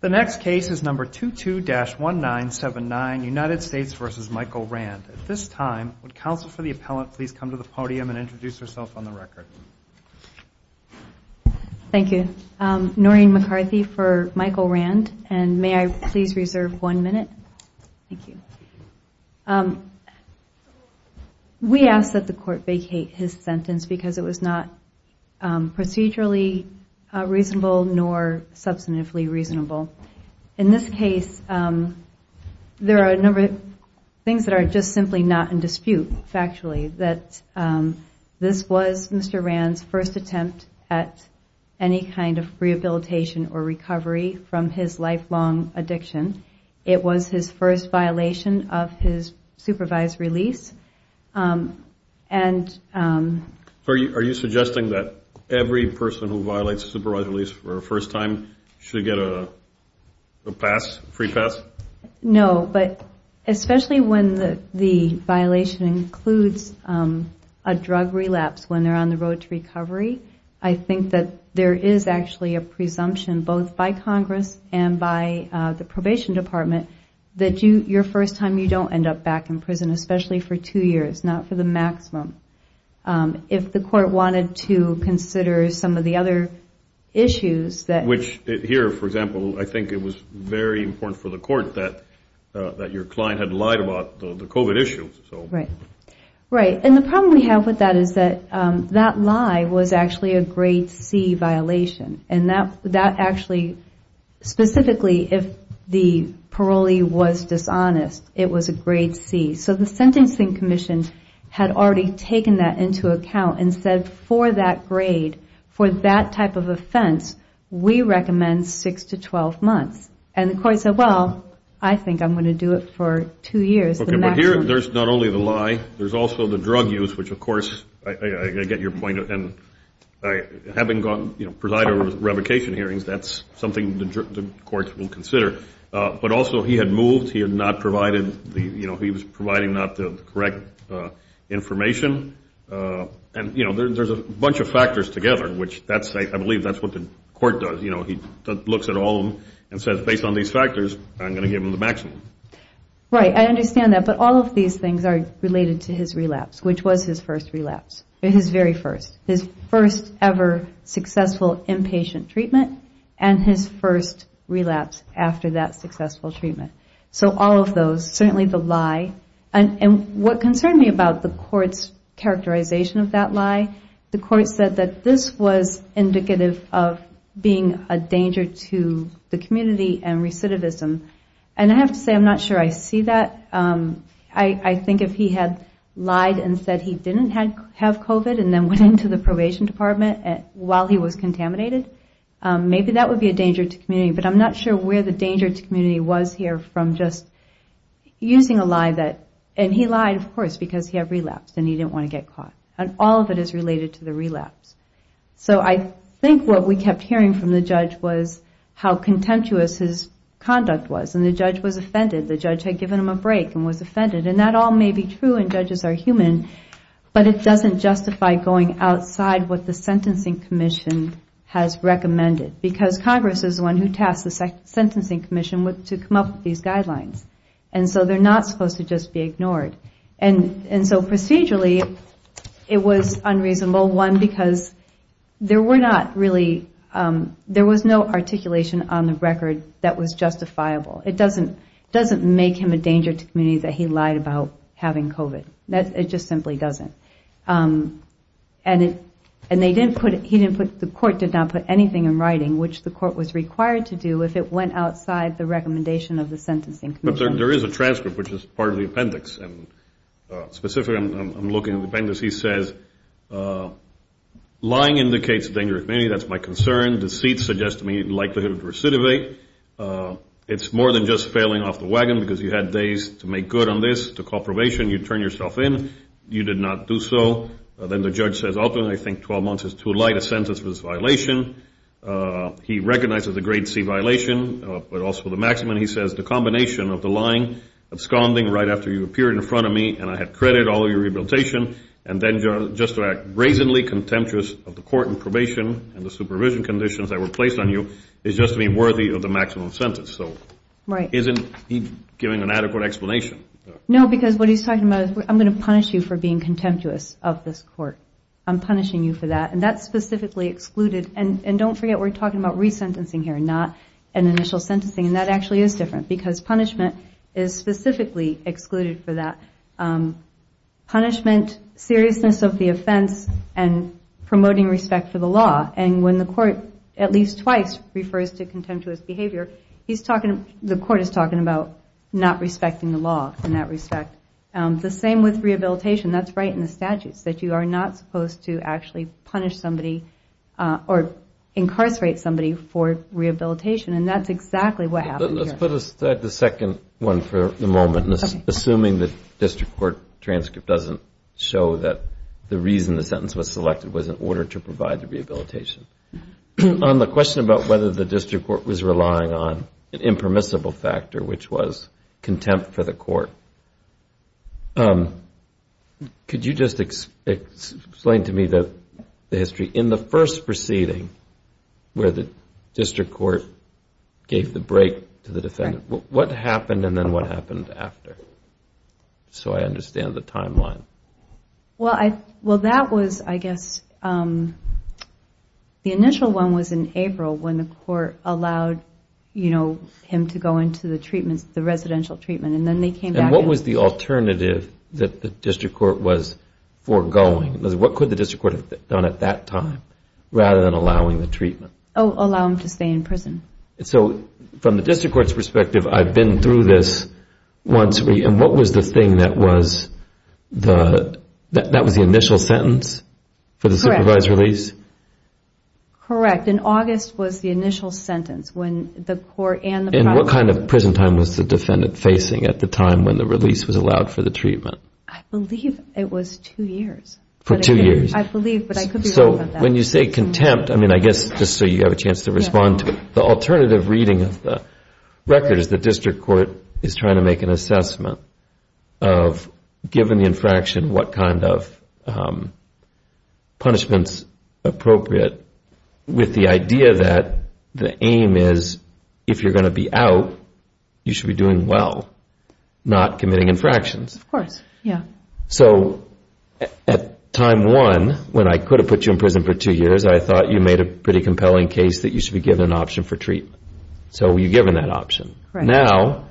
The next case is number 22-1979, United States v. Michael Rand. At this time, would counsel for the appellant please come to the podium and introduce herself on the record? Thank you. Noreen McCarthy for Michael Rand. And may I please reserve one minute? Thank you. We ask that the court vacate his sentence because it was not procedurally reasonable nor substantively reasonable. In this case, there are a number of things that are just simply not in dispute, factually, that this was Mr. Rand's first attempt at any kind of rehabilitation or recovery from his lifelong addiction. It was his first violation of his supervised release. And So are you suggesting that every person who first time should get a pass, free pass? No, but especially when the violation includes a drug relapse when they're on the road to recovery, I think that there is actually a presumption both by Congress and by the probation department that your first time, you don't end up back in prison, especially for two years, not for the maximum. If the court wanted to consider some of the other issues that Which here, for example, I think it was very important for the court that your client had lied about the COVID issues. Right. Right. And the problem we have with that is that that lie was actually a grade C violation. And that actually, specifically if the parolee was dishonest, it was a grade C. So the Sentencing Commission had already taken that into account and said for that grade, for that type of offense, we recommend six to 12 months. And the court said, well, I think I'm going to do it for two years. OK, but here, there's not only the lie, there's also the drug use, which of course, I get your point. And having gone, you know, presided over revocation hearings, that's something the court will consider. But also, he had moved. He had not provided the, you know, he was providing not the correct information. And you know, there's a bunch of factors together, which that's, I believe, that's what the court does. You know, he looks at all of them and says, based on these factors, I'm going to give him the maximum. Right, I understand that. But all of these things are related to his relapse, which was his first relapse, his very first. His first ever successful inpatient treatment and his first relapse after that successful treatment. So all of those, certainly the lie. And what concerned me about the court's characterization of that lie, the court said that this was indicative of being a danger to the community and recidivism. And I have to say, I'm not sure I see that. I think if he had lied and said he didn't have COVID and then went into the probation department while he was contaminated, maybe that would be a danger to community. But I'm not sure where the danger to community was here from just using a lie that, and he lied, of course, because he had relapsed and he didn't want to get caught. All of it is related to the relapse. So I think what we kept hearing from the judge was how contemptuous his conduct was. And the judge was offended. The judge had given him a break and was offended. And that all may be true, and judges are human, but it doesn't justify going outside what the Sentencing Commission has recommended. Because Congress is the one who tasked the Sentencing Commission to come up with these guidelines. And so they're not supposed to just be ignored. And so procedurally, it was unreasonable, one, because there were not really, there was no articulation on the record that was justifiable. It doesn't make him a danger to community that he lied about having COVID. It just simply doesn't. And he didn't put, the court did not put anything in writing, which the court was required to do if it went outside the recommendation of the Sentencing Commission. But there is a transcript, which is part of the appendix. And specifically, I'm looking at the appendix. He says, lying indicates danger to community. That's my concern. Deceit suggests to me likelihood of recidivate. It's more than just failing off the wagon because you had days to make good on this, to call probation. You turn yourself in. You did not do so. Then the judge says, ultimately, I think 12 months is too late. A sentence for this violation. He recognizes the grade C violation, but also the maximum, he says, the combination of the lying, absconding right after you appeared in front of me and I had credit, all of your rehabilitation, and then just to act brazenly contemptuous of the court and probation and the supervision conditions that were placed on you is just to be worthy of the maximum sentence. So isn't he giving an adequate explanation? No, because what he's talking about is I'm going to punish you for being contemptuous of this court. I'm punishing you for that. And that's specifically excluded. And don't forget, we're talking about resentencing here, not an initial sentencing. And that actually is different, because punishment is specifically excluded for that. Punishment, seriousness of the offense, and promoting respect for the law. And when the court, at least twice, refers to contemptuous behavior, the court is talking about not respecting the law in that respect. The same with rehabilitation. That's right in the statutes, that you are not supposed to actually punish somebody or incarcerate somebody for rehabilitation. And that's exactly what happened here. Let's put aside the second one for the moment. Assuming the district court transcript doesn't show that the reason the sentence was selected was in order to provide the rehabilitation. On the question about whether the district court was relying on an impermissible factor, which was contempt for the court, could you just explain to me the history? In the first proceeding, where the district court gave the break to the defendant, what happened? And then what happened after? So I understand the timeline. Well, that was, I guess, the initial one was in April, when the court allowed him to go into the residential treatment. And then they came back. And what was the alternative that the district court was foregoing? What could the district court have done at that time, rather than allowing the treatment? Oh, allow him to stay in prison. So from the district court's perspective, I've been through this once. And what was the thing that was the initial sentence for the supervised release? Correct, in August was the initial sentence, when the court and the prosecutor And what kind of prison time was the defendant facing at the time when the release was allowed for the treatment? I believe it was two years. For two years? I believe, but I could be wrong on that. So when you say contempt, I mean, I guess just so you have a chance to respond to it, the alternative reading of the record is the district court is trying to make an assessment of, given the infraction, what kind of punishments appropriate, with the idea that the aim is, if you're going to be out, you should be doing well, not committing infractions. Of course, yeah. So at time one, when I could have put you in prison for two years, I thought you made a pretty compelling case that you should be given an option for treatment. So you're given that option. Now,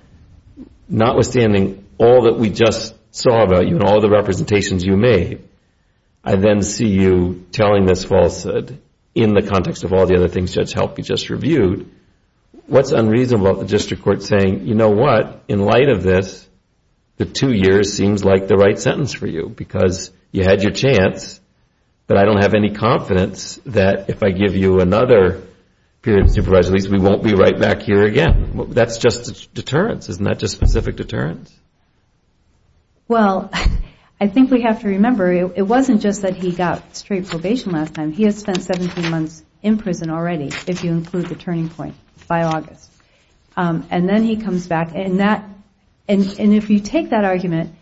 notwithstanding all that we just saw about you and all the representations you made, I then see you telling this falsehood in the context of all the other things Judge Helpe just reviewed, what's unreasonable about the district court saying, you know what? In light of this, the two years seems like the right sentence for you, because you had your chance. But I don't have any confidence that if I give you another period of supervised release, we won't be right back here again. That's just a deterrence. Isn't that just specific deterrence? Well, I think we have to remember, it wasn't just that he got straight probation last time. He has spent 17 months in prison already, if you include the turning point, by August. And then he comes back. And if you take that argument,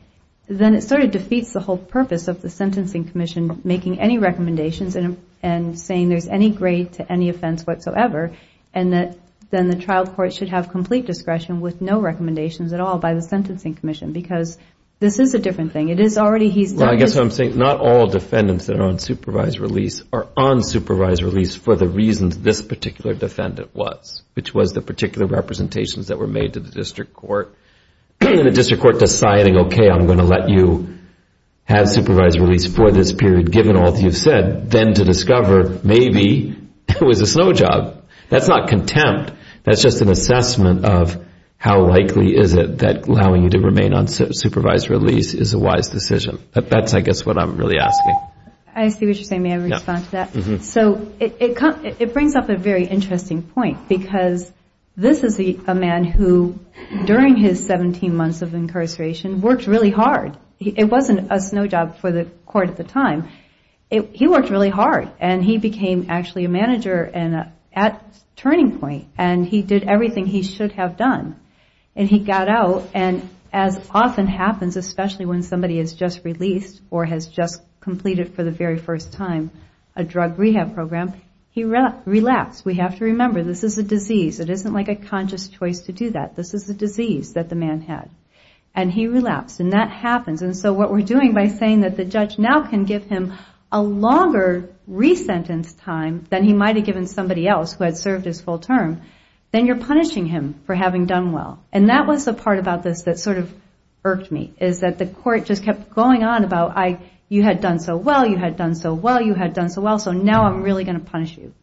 then it sort of defeats the whole purpose of the Sentencing Commission making any recommendations and saying there's any grade to any offense whatsoever. And that then the trial court should have complete discretion with no recommendations at all by the Sentencing Commission, because this is a different thing. It is already he's done this. Well, I guess what I'm saying, not all defendants that are on supervised release are on supervised release for the reasons this particular defendant was, which was the particular representations that were made to the district court. And the district court deciding, OK, I'm going to let you have supervised release for this period, given all that you've said, then to discover maybe it was a snow job. That's not contempt. That's just an assessment of how likely is it allowing you to remain on supervised release is a wise decision. That's, I guess, what I'm really asking. I see what you're saying. May I respond to that? So it brings up a very interesting point, because this is a man who, during his 17 months of incarceration, worked really hard. It wasn't a snow job for the court at the time. He worked really hard. And he became actually a manager at turning point. And he did everything he should have done. And he got out. And as often happens, especially when somebody is just released or has just completed, for the very first time, a drug rehab program, he relapsed. We have to remember, this is a disease. It isn't like a conscious choice to do that. This is a disease that the man had. And he relapsed. And that happens. And so what we're doing by saying that the judge now can give him a longer re-sentence time than he might have given somebody else who had served his full term, then you're And that was the part about this that sort of irked me, is that the court just kept going on about, you had done so well. You had done so well. You had done so well. So now I'm really going to punish you.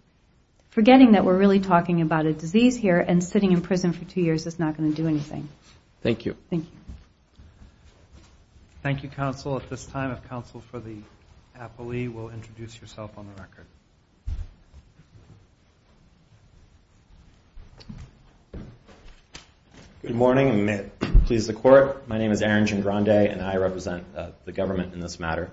Forgetting that we're really talking about a disease here and sitting in prison for two years is not going to do anything. Thank you. Thank you. Thank you, counsel. At this time, if counsel for the appellee will introduce yourself on the record. Good morning, and may it please the court. My name is Aaron Gingrande, and I represent the government in this matter.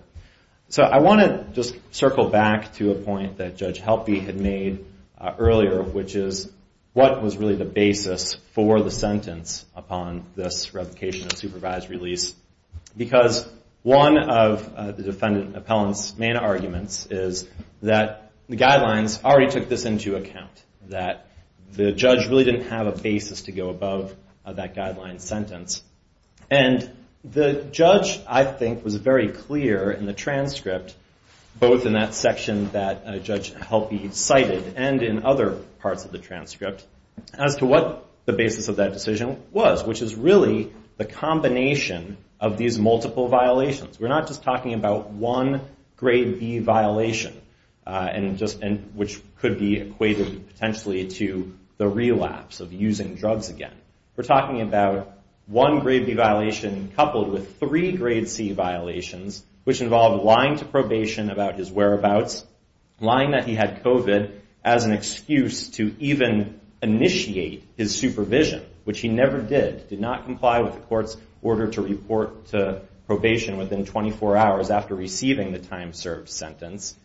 So I want to just circle back to a point that Judge Helpe had made earlier, which is, what was really the basis for the sentence upon this revocation of supervised release? Because one of the defendant appellant's main arguments is that the guidelines already took this into account, that the judge really didn't have a basis to go above that guideline sentence. And the judge, I think, was very clear in the transcript, both in that section that Judge Helpe cited and in other parts of the transcript, as to what the basis of that decision was, which is really the combination of these multiple violations. We're not just talking about one grade B violation, which could be equated potentially to the relapse of using drugs again. We're talking about one grade B violation coupled with three grade C violations, which involved lying to probation about his whereabouts, lying that he had COVID as an excuse to even initiate his supervision, which he never did, did not comply with the court's order to report to probation within 24 hours after receiving the time served sentence.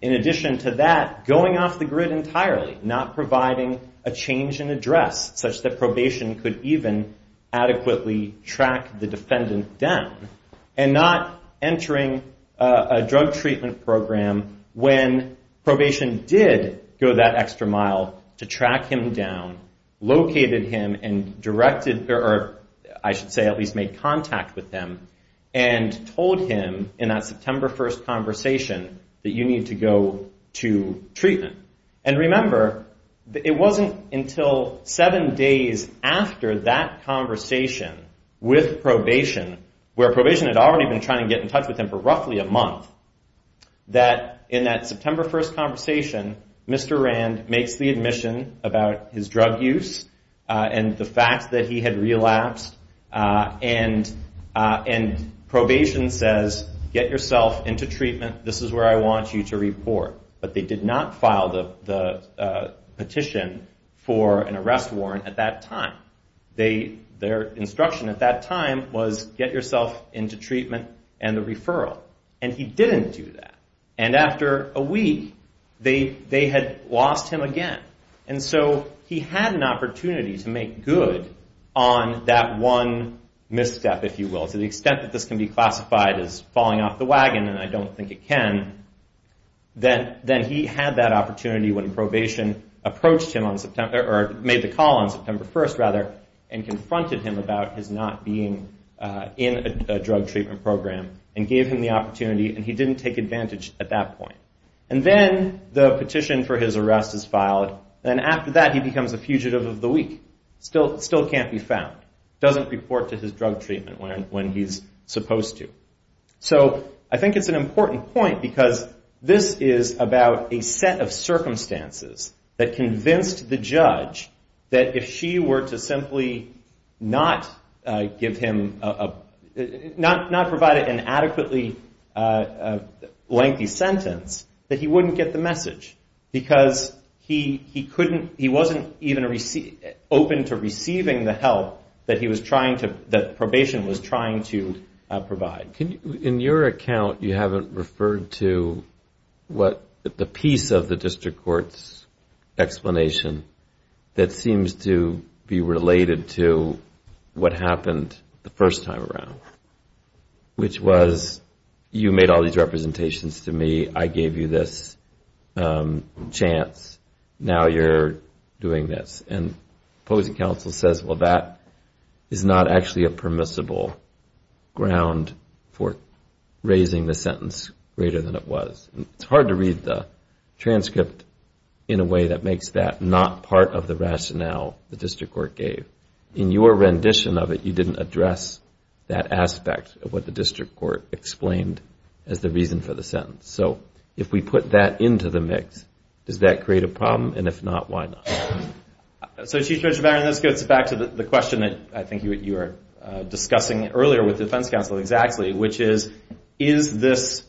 In addition to that, going off the grid entirely, not providing a change in address, such that probation could even adequately track the defendant down, and not entering a drug treatment program when probation did go that extra mile to track him down, located him, and directed, or I should say, at least made contact with him, and told him in that September 1st conversation that you need to go to treatment. And remember, it wasn't until seven days after that conversation with probation, where probation had already been trying to get in touch with him for roughly a month, that in that September 1st conversation, Mr. Rand makes the admission about his drug use and the fact that he had relapsed. And probation says, get yourself into treatment. This is where I want you to report. But they did not file the petition for an arrest warrant at that time. Their instruction at that time was, get yourself into treatment and the referral. And he didn't do that. And after a week, they had lost him again. And so he had an opportunity to make good on that one misstep, if you will. To the extent that this can be classified as falling off the wagon, and I don't think it can, then he had that opportunity when probation approached him on September, or made the call on September 1st, rather, and confronted him about his not being in a drug treatment program, and gave him the opportunity. And he didn't take advantage at that point. And then the petition for his arrest is filed. Then after that, he becomes a fugitive of the week, still can't be found, doesn't report to his drug treatment when he's supposed to. So I think it's an important point, because this is about a set of circumstances that convinced the judge that if she were to simply not provide an adequately lengthy sentence, that he wouldn't get the message. Because he wasn't even open to receiving the help that probation was trying to provide. In your account, you haven't referred to the piece of the district court's explanation that seems to be related to what happened the first time around. Which was, you made all these representations to me, I gave you this chance, now you're doing this. And opposing counsel says, well, that is not actually a permissible ground for raising the sentence greater than it was. It's hard to read the transcript in a way that makes that not part of the rationale the district court gave. In your rendition of it, you didn't address that aspect of what the district court explained as the reason for the sentence. So if we put that into the mix, does that create a problem? And if not, why not? So Chief Judge Baron, this gets back to the question that I think you were discussing earlier with defense counsel exactly, which is, is this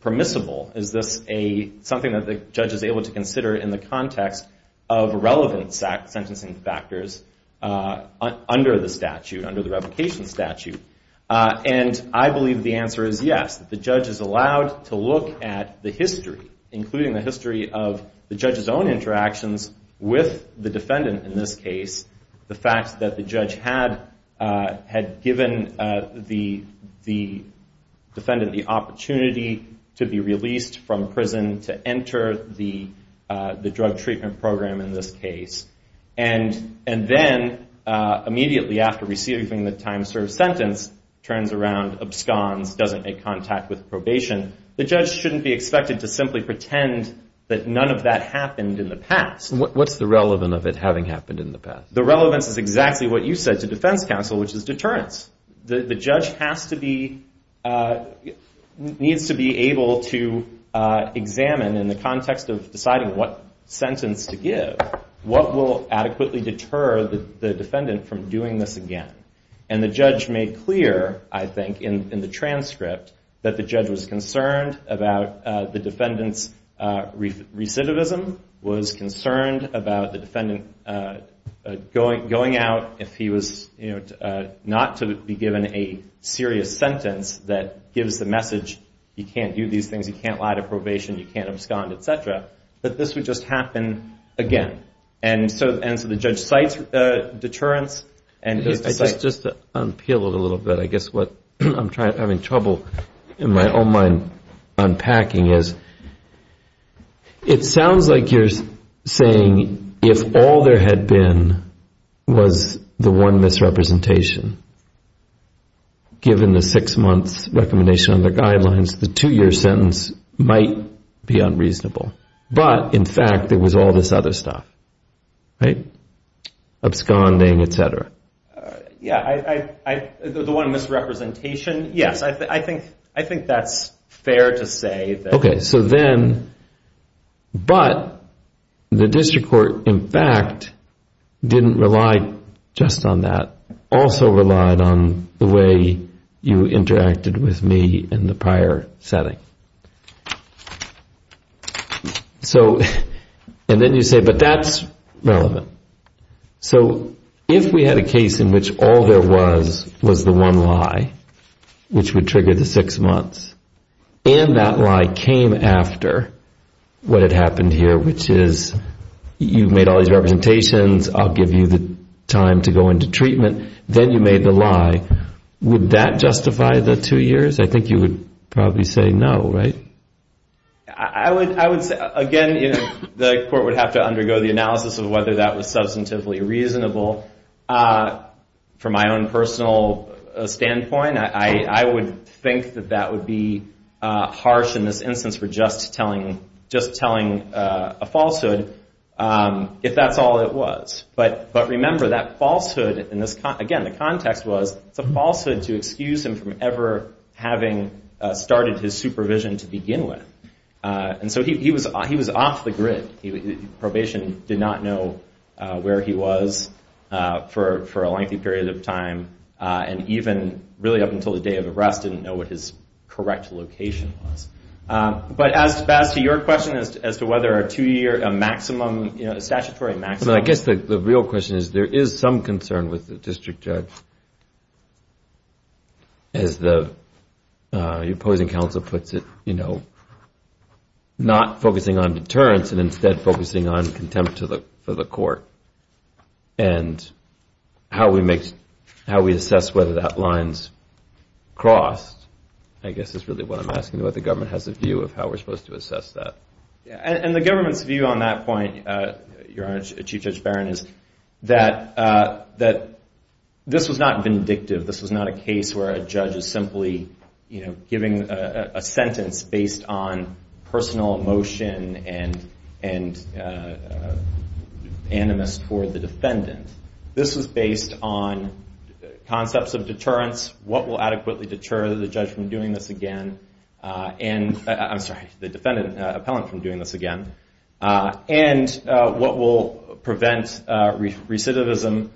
permissible? Is this something that the judge is able to consider in the context of relevant sentencing factors under the statute, under the revocation statute? And I believe the answer is yes. The judge is allowed to look at the history, including the history of the judge's own interactions with the defendant in this case, the fact that the judge had given the defendant the opportunity to be released from prison to enter the drug treatment program in this case. And then immediately after receiving the time served sentence, turns around, absconds, doesn't make contact with probation, the judge shouldn't be expected to simply pretend that none of that happened in the past. What's the relevant of it having happened in the past? The relevance is exactly what you said to defense counsel, which is deterrence. The judge needs to be able to examine in the context of deciding what sentence to give, what will adequately deter the defendant from doing this again. And the judge made clear, I think, in the transcript, that the judge was concerned about the defendant's recidivism, was concerned about the defendant going out if he was not to be given a serious sentence that gives the message, you can't do these things, you can't lie to probation, you can't abscond, et cetera, that this would just happen again. And so the judge cites deterrence and goes to site. Just to unpeel it a little bit, I guess what I'm having trouble in my own mind unpacking is, it sounds like you're saying if all there had been was the one misrepresentation, given the six months recommendation on the guidelines, the two-year sentence might be unreasonable. But, in fact, there was all this other stuff, right? Absconding, et cetera. Yeah, the one misrepresentation, yes. I think that's fair to say. OK, so then, but the district court, in fact, didn't rely just on that, also relied on the way you interacted with me in the prior setting. So, and then you say, but that's relevant. So if we had a case in which all there was was the one lie, which would trigger the six months, and that lie came after what had happened here, which is, you've made all these representations, I'll give you the time to go into treatment, then you made the lie, would that justify the two years? I think you would probably say no, right? I would say, again, the court would have to undergo the analysis of whether that was substantively reasonable. From my own personal standpoint, I would think that that would be harsh in this instance for just telling a falsehood, if that's all it was. But remember, that falsehood, again, the context was, it's a falsehood to excuse him from ever having started his supervision to begin with. And so he was off the grid. Probation did not know where he was for a lengthy period of time. And even, really, up until the day of arrest, didn't know what his correct location was. But as to your question, as to whether a two year maximum, a statutory maximum. I guess the real question is, there is some concern with the district judge. And as the opposing counsel puts it, not focusing on deterrence, and instead focusing on contempt for the court. And how we assess whether that line's crossed, I guess is really what I'm asking, what the government has a view of how we're supposed to assess that. And the government's view on that point, Your Honor, Chief Judge Barron, is that this was not vindictive. This was not a case where a judge is simply giving a sentence based on personal emotion and animus toward the defendant. This was based on concepts of deterrence, what will adequately deter the defendant appellant from doing this again. And what will prevent recidivism,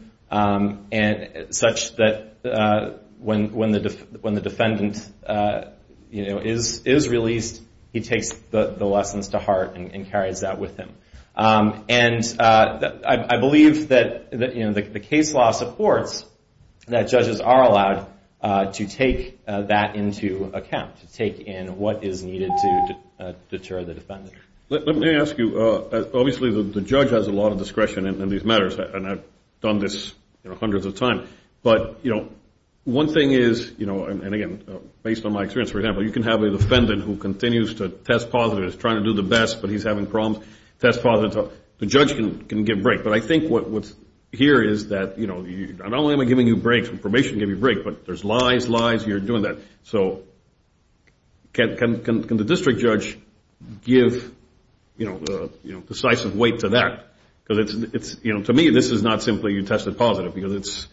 such that when the defendant is released, he takes the lessons to heart and carries that with him. And I believe that the case law supports that judges are allowed to take that into account, to take in what is needed to deter the defendant. Let me ask you, obviously the judge has a lot of discretion in these matters, and I've done this hundreds of times. But one thing is, and again, based on my experience, for example, you can have a defendant who continues to test positive, is trying to do the best, but he's having problems, test positive. The judge can give break. But I think what's here is that not only am I giving you breaks, probation gave you break, but there's lies, lies, you're doing that. So can the district judge give decisive weight to that? Because to me, this is not simply you tested positive, because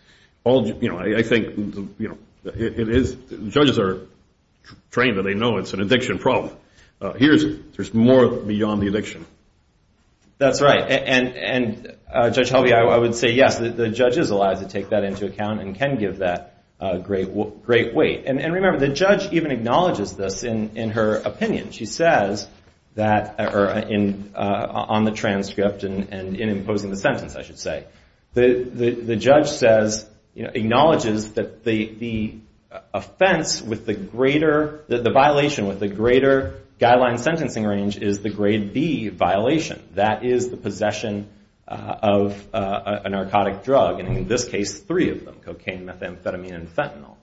I think judges are trained, and they know it's an addiction problem. Here, there's more beyond the addiction. That's right, and Judge Helvey, I would say yes, the judge is allowed to take that into account and can give that great weight. And remember, the judge even acknowledges this in her opinion. She says that, on the transcript and in imposing the sentence, I should say, the judge says, acknowledges that the offense with the greater, the violation with the greater guideline sentencing range is the grade B violation. That is the possession of a narcotic drug, and in this case, three of them, cocaine, methamphetamine, and fentanyl.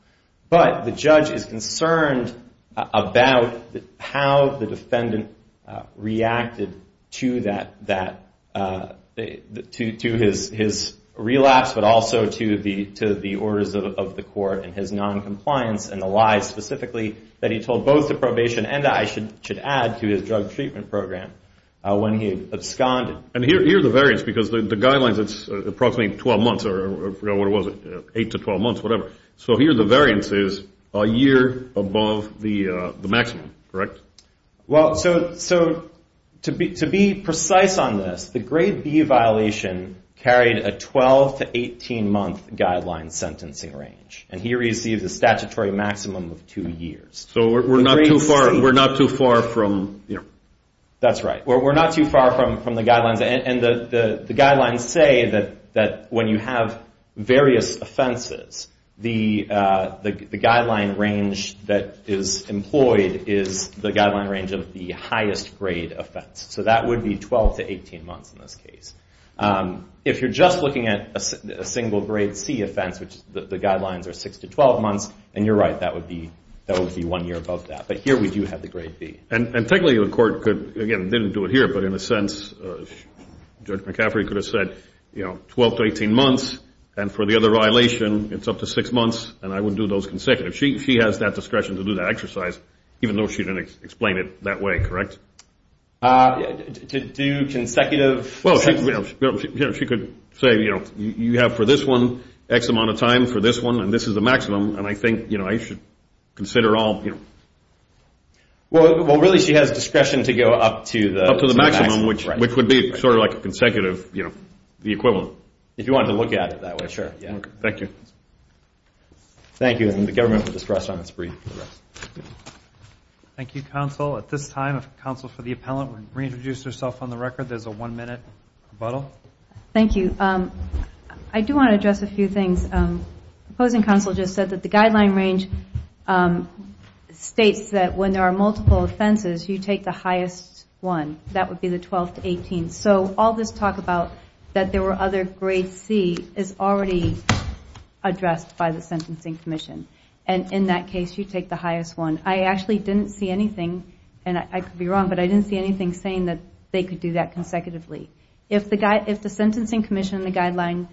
But the judge is concerned about how the defendant reacted to that, to his relapse, but also to the orders of the court and his noncompliance, and the lie specifically that he told both the probation and I should add to his drug treatment program when he absconded. And here are the variants, because the guidelines, it's approximately 12 months, or what was it, eight to 12 months, whatever. So here, the variance is a year above the maximum, correct? Well, so to be precise on this, the grade B violation carried a 12 to 18 month guideline sentencing range, and he received a statutory maximum of two years. So we're not too far from, you know. That's right. We're not too far from the guidelines, and the guidelines say that when you have various offenses, the guideline range that is employed is the guideline range of the highest grade offense. So that would be 12 to 18 months in this case. If you're just looking at a single grade C offense, which the guidelines are six to 12 months, and you're right, that would be one year above that. But here, we do have the grade B. And technically, the court could, again, didn't do it here, but in a sense, Judge McCaffrey could have said, you know, 12 to 18 months, and for the other violation, it's up to six months, and I would do those consecutively. She has that discretion to do that exercise, even though she didn't explain it that way, correct? To do consecutive? Well, she could say, you know, you have for this one X amount of time for this one, and this is the maximum. And I think, you know, I should consider all, you know. Well, really, she has discretion to go up to the maximum. you know, the equivalent. If you wanted to look at it that way, sure, yeah. Thank you. Thank you, and the government for discretion on this brief. Thank you, counsel. At this time, if counsel for the appellant would reintroduce herself on the record, there's a one minute rebuttal. Thank you. I do want to address a few things. Proposing counsel just said that the guideline range states that when there are multiple offenses, you take the highest one. That would be the 12 to 18. So all this talk about that there were other grade C is already addressed by the Sentencing Commission. And in that case, you take the highest one. I actually didn't see anything, and I could be wrong, but I didn't see anything saying that they could do that consecutively. If the Sentencing Commission, the guideline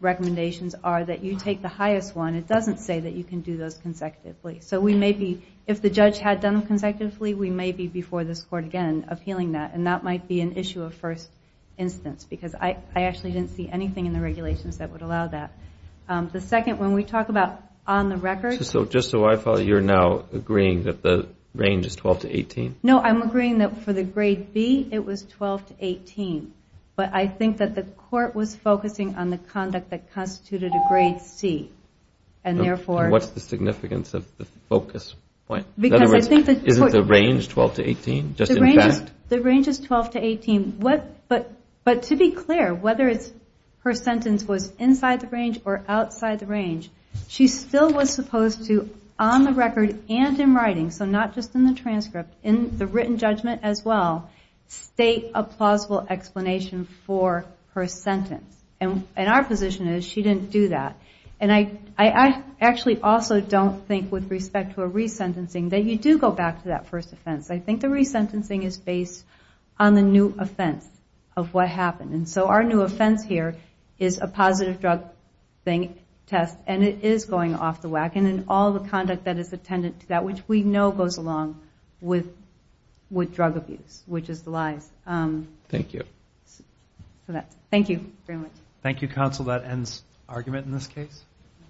recommendations are that you take the highest one, it doesn't say that you can do those consecutively. So we may be, if the judge had done them consecutively, we may be before this court again appealing that. And that might be an issue of first instance, because I actually didn't see anything in the regulations that would allow that. The second, when we talk about on the record. Just so I follow, you're now agreeing that the range is 12 to 18? No, I'm agreeing that for the grade B, it was 12 to 18. But I think that the court was focusing on the conduct that constituted a grade C. And therefore. What's the significance of the focus point? In other words, isn't the range 12 to 18? The range is 12 to 18. But to be clear, whether her sentence was inside the range or outside the range, she still was supposed to, on the record and in writing, so not just in the transcript, in the written judgment as well, state a plausible explanation for her sentence. And our position is she didn't do that. And I actually also don't think, with respect to a resentencing, that you do go back to that first offense. I think the resentencing is based on the new offense of what happened. And so our new offense here is a positive drug test. And it is going off the wagon. And all the conduct that is attendant to that, which we know goes along with drug abuse, which is the lies. Thank you. Thank you very much. Thank you, counsel. That ends argument in this case.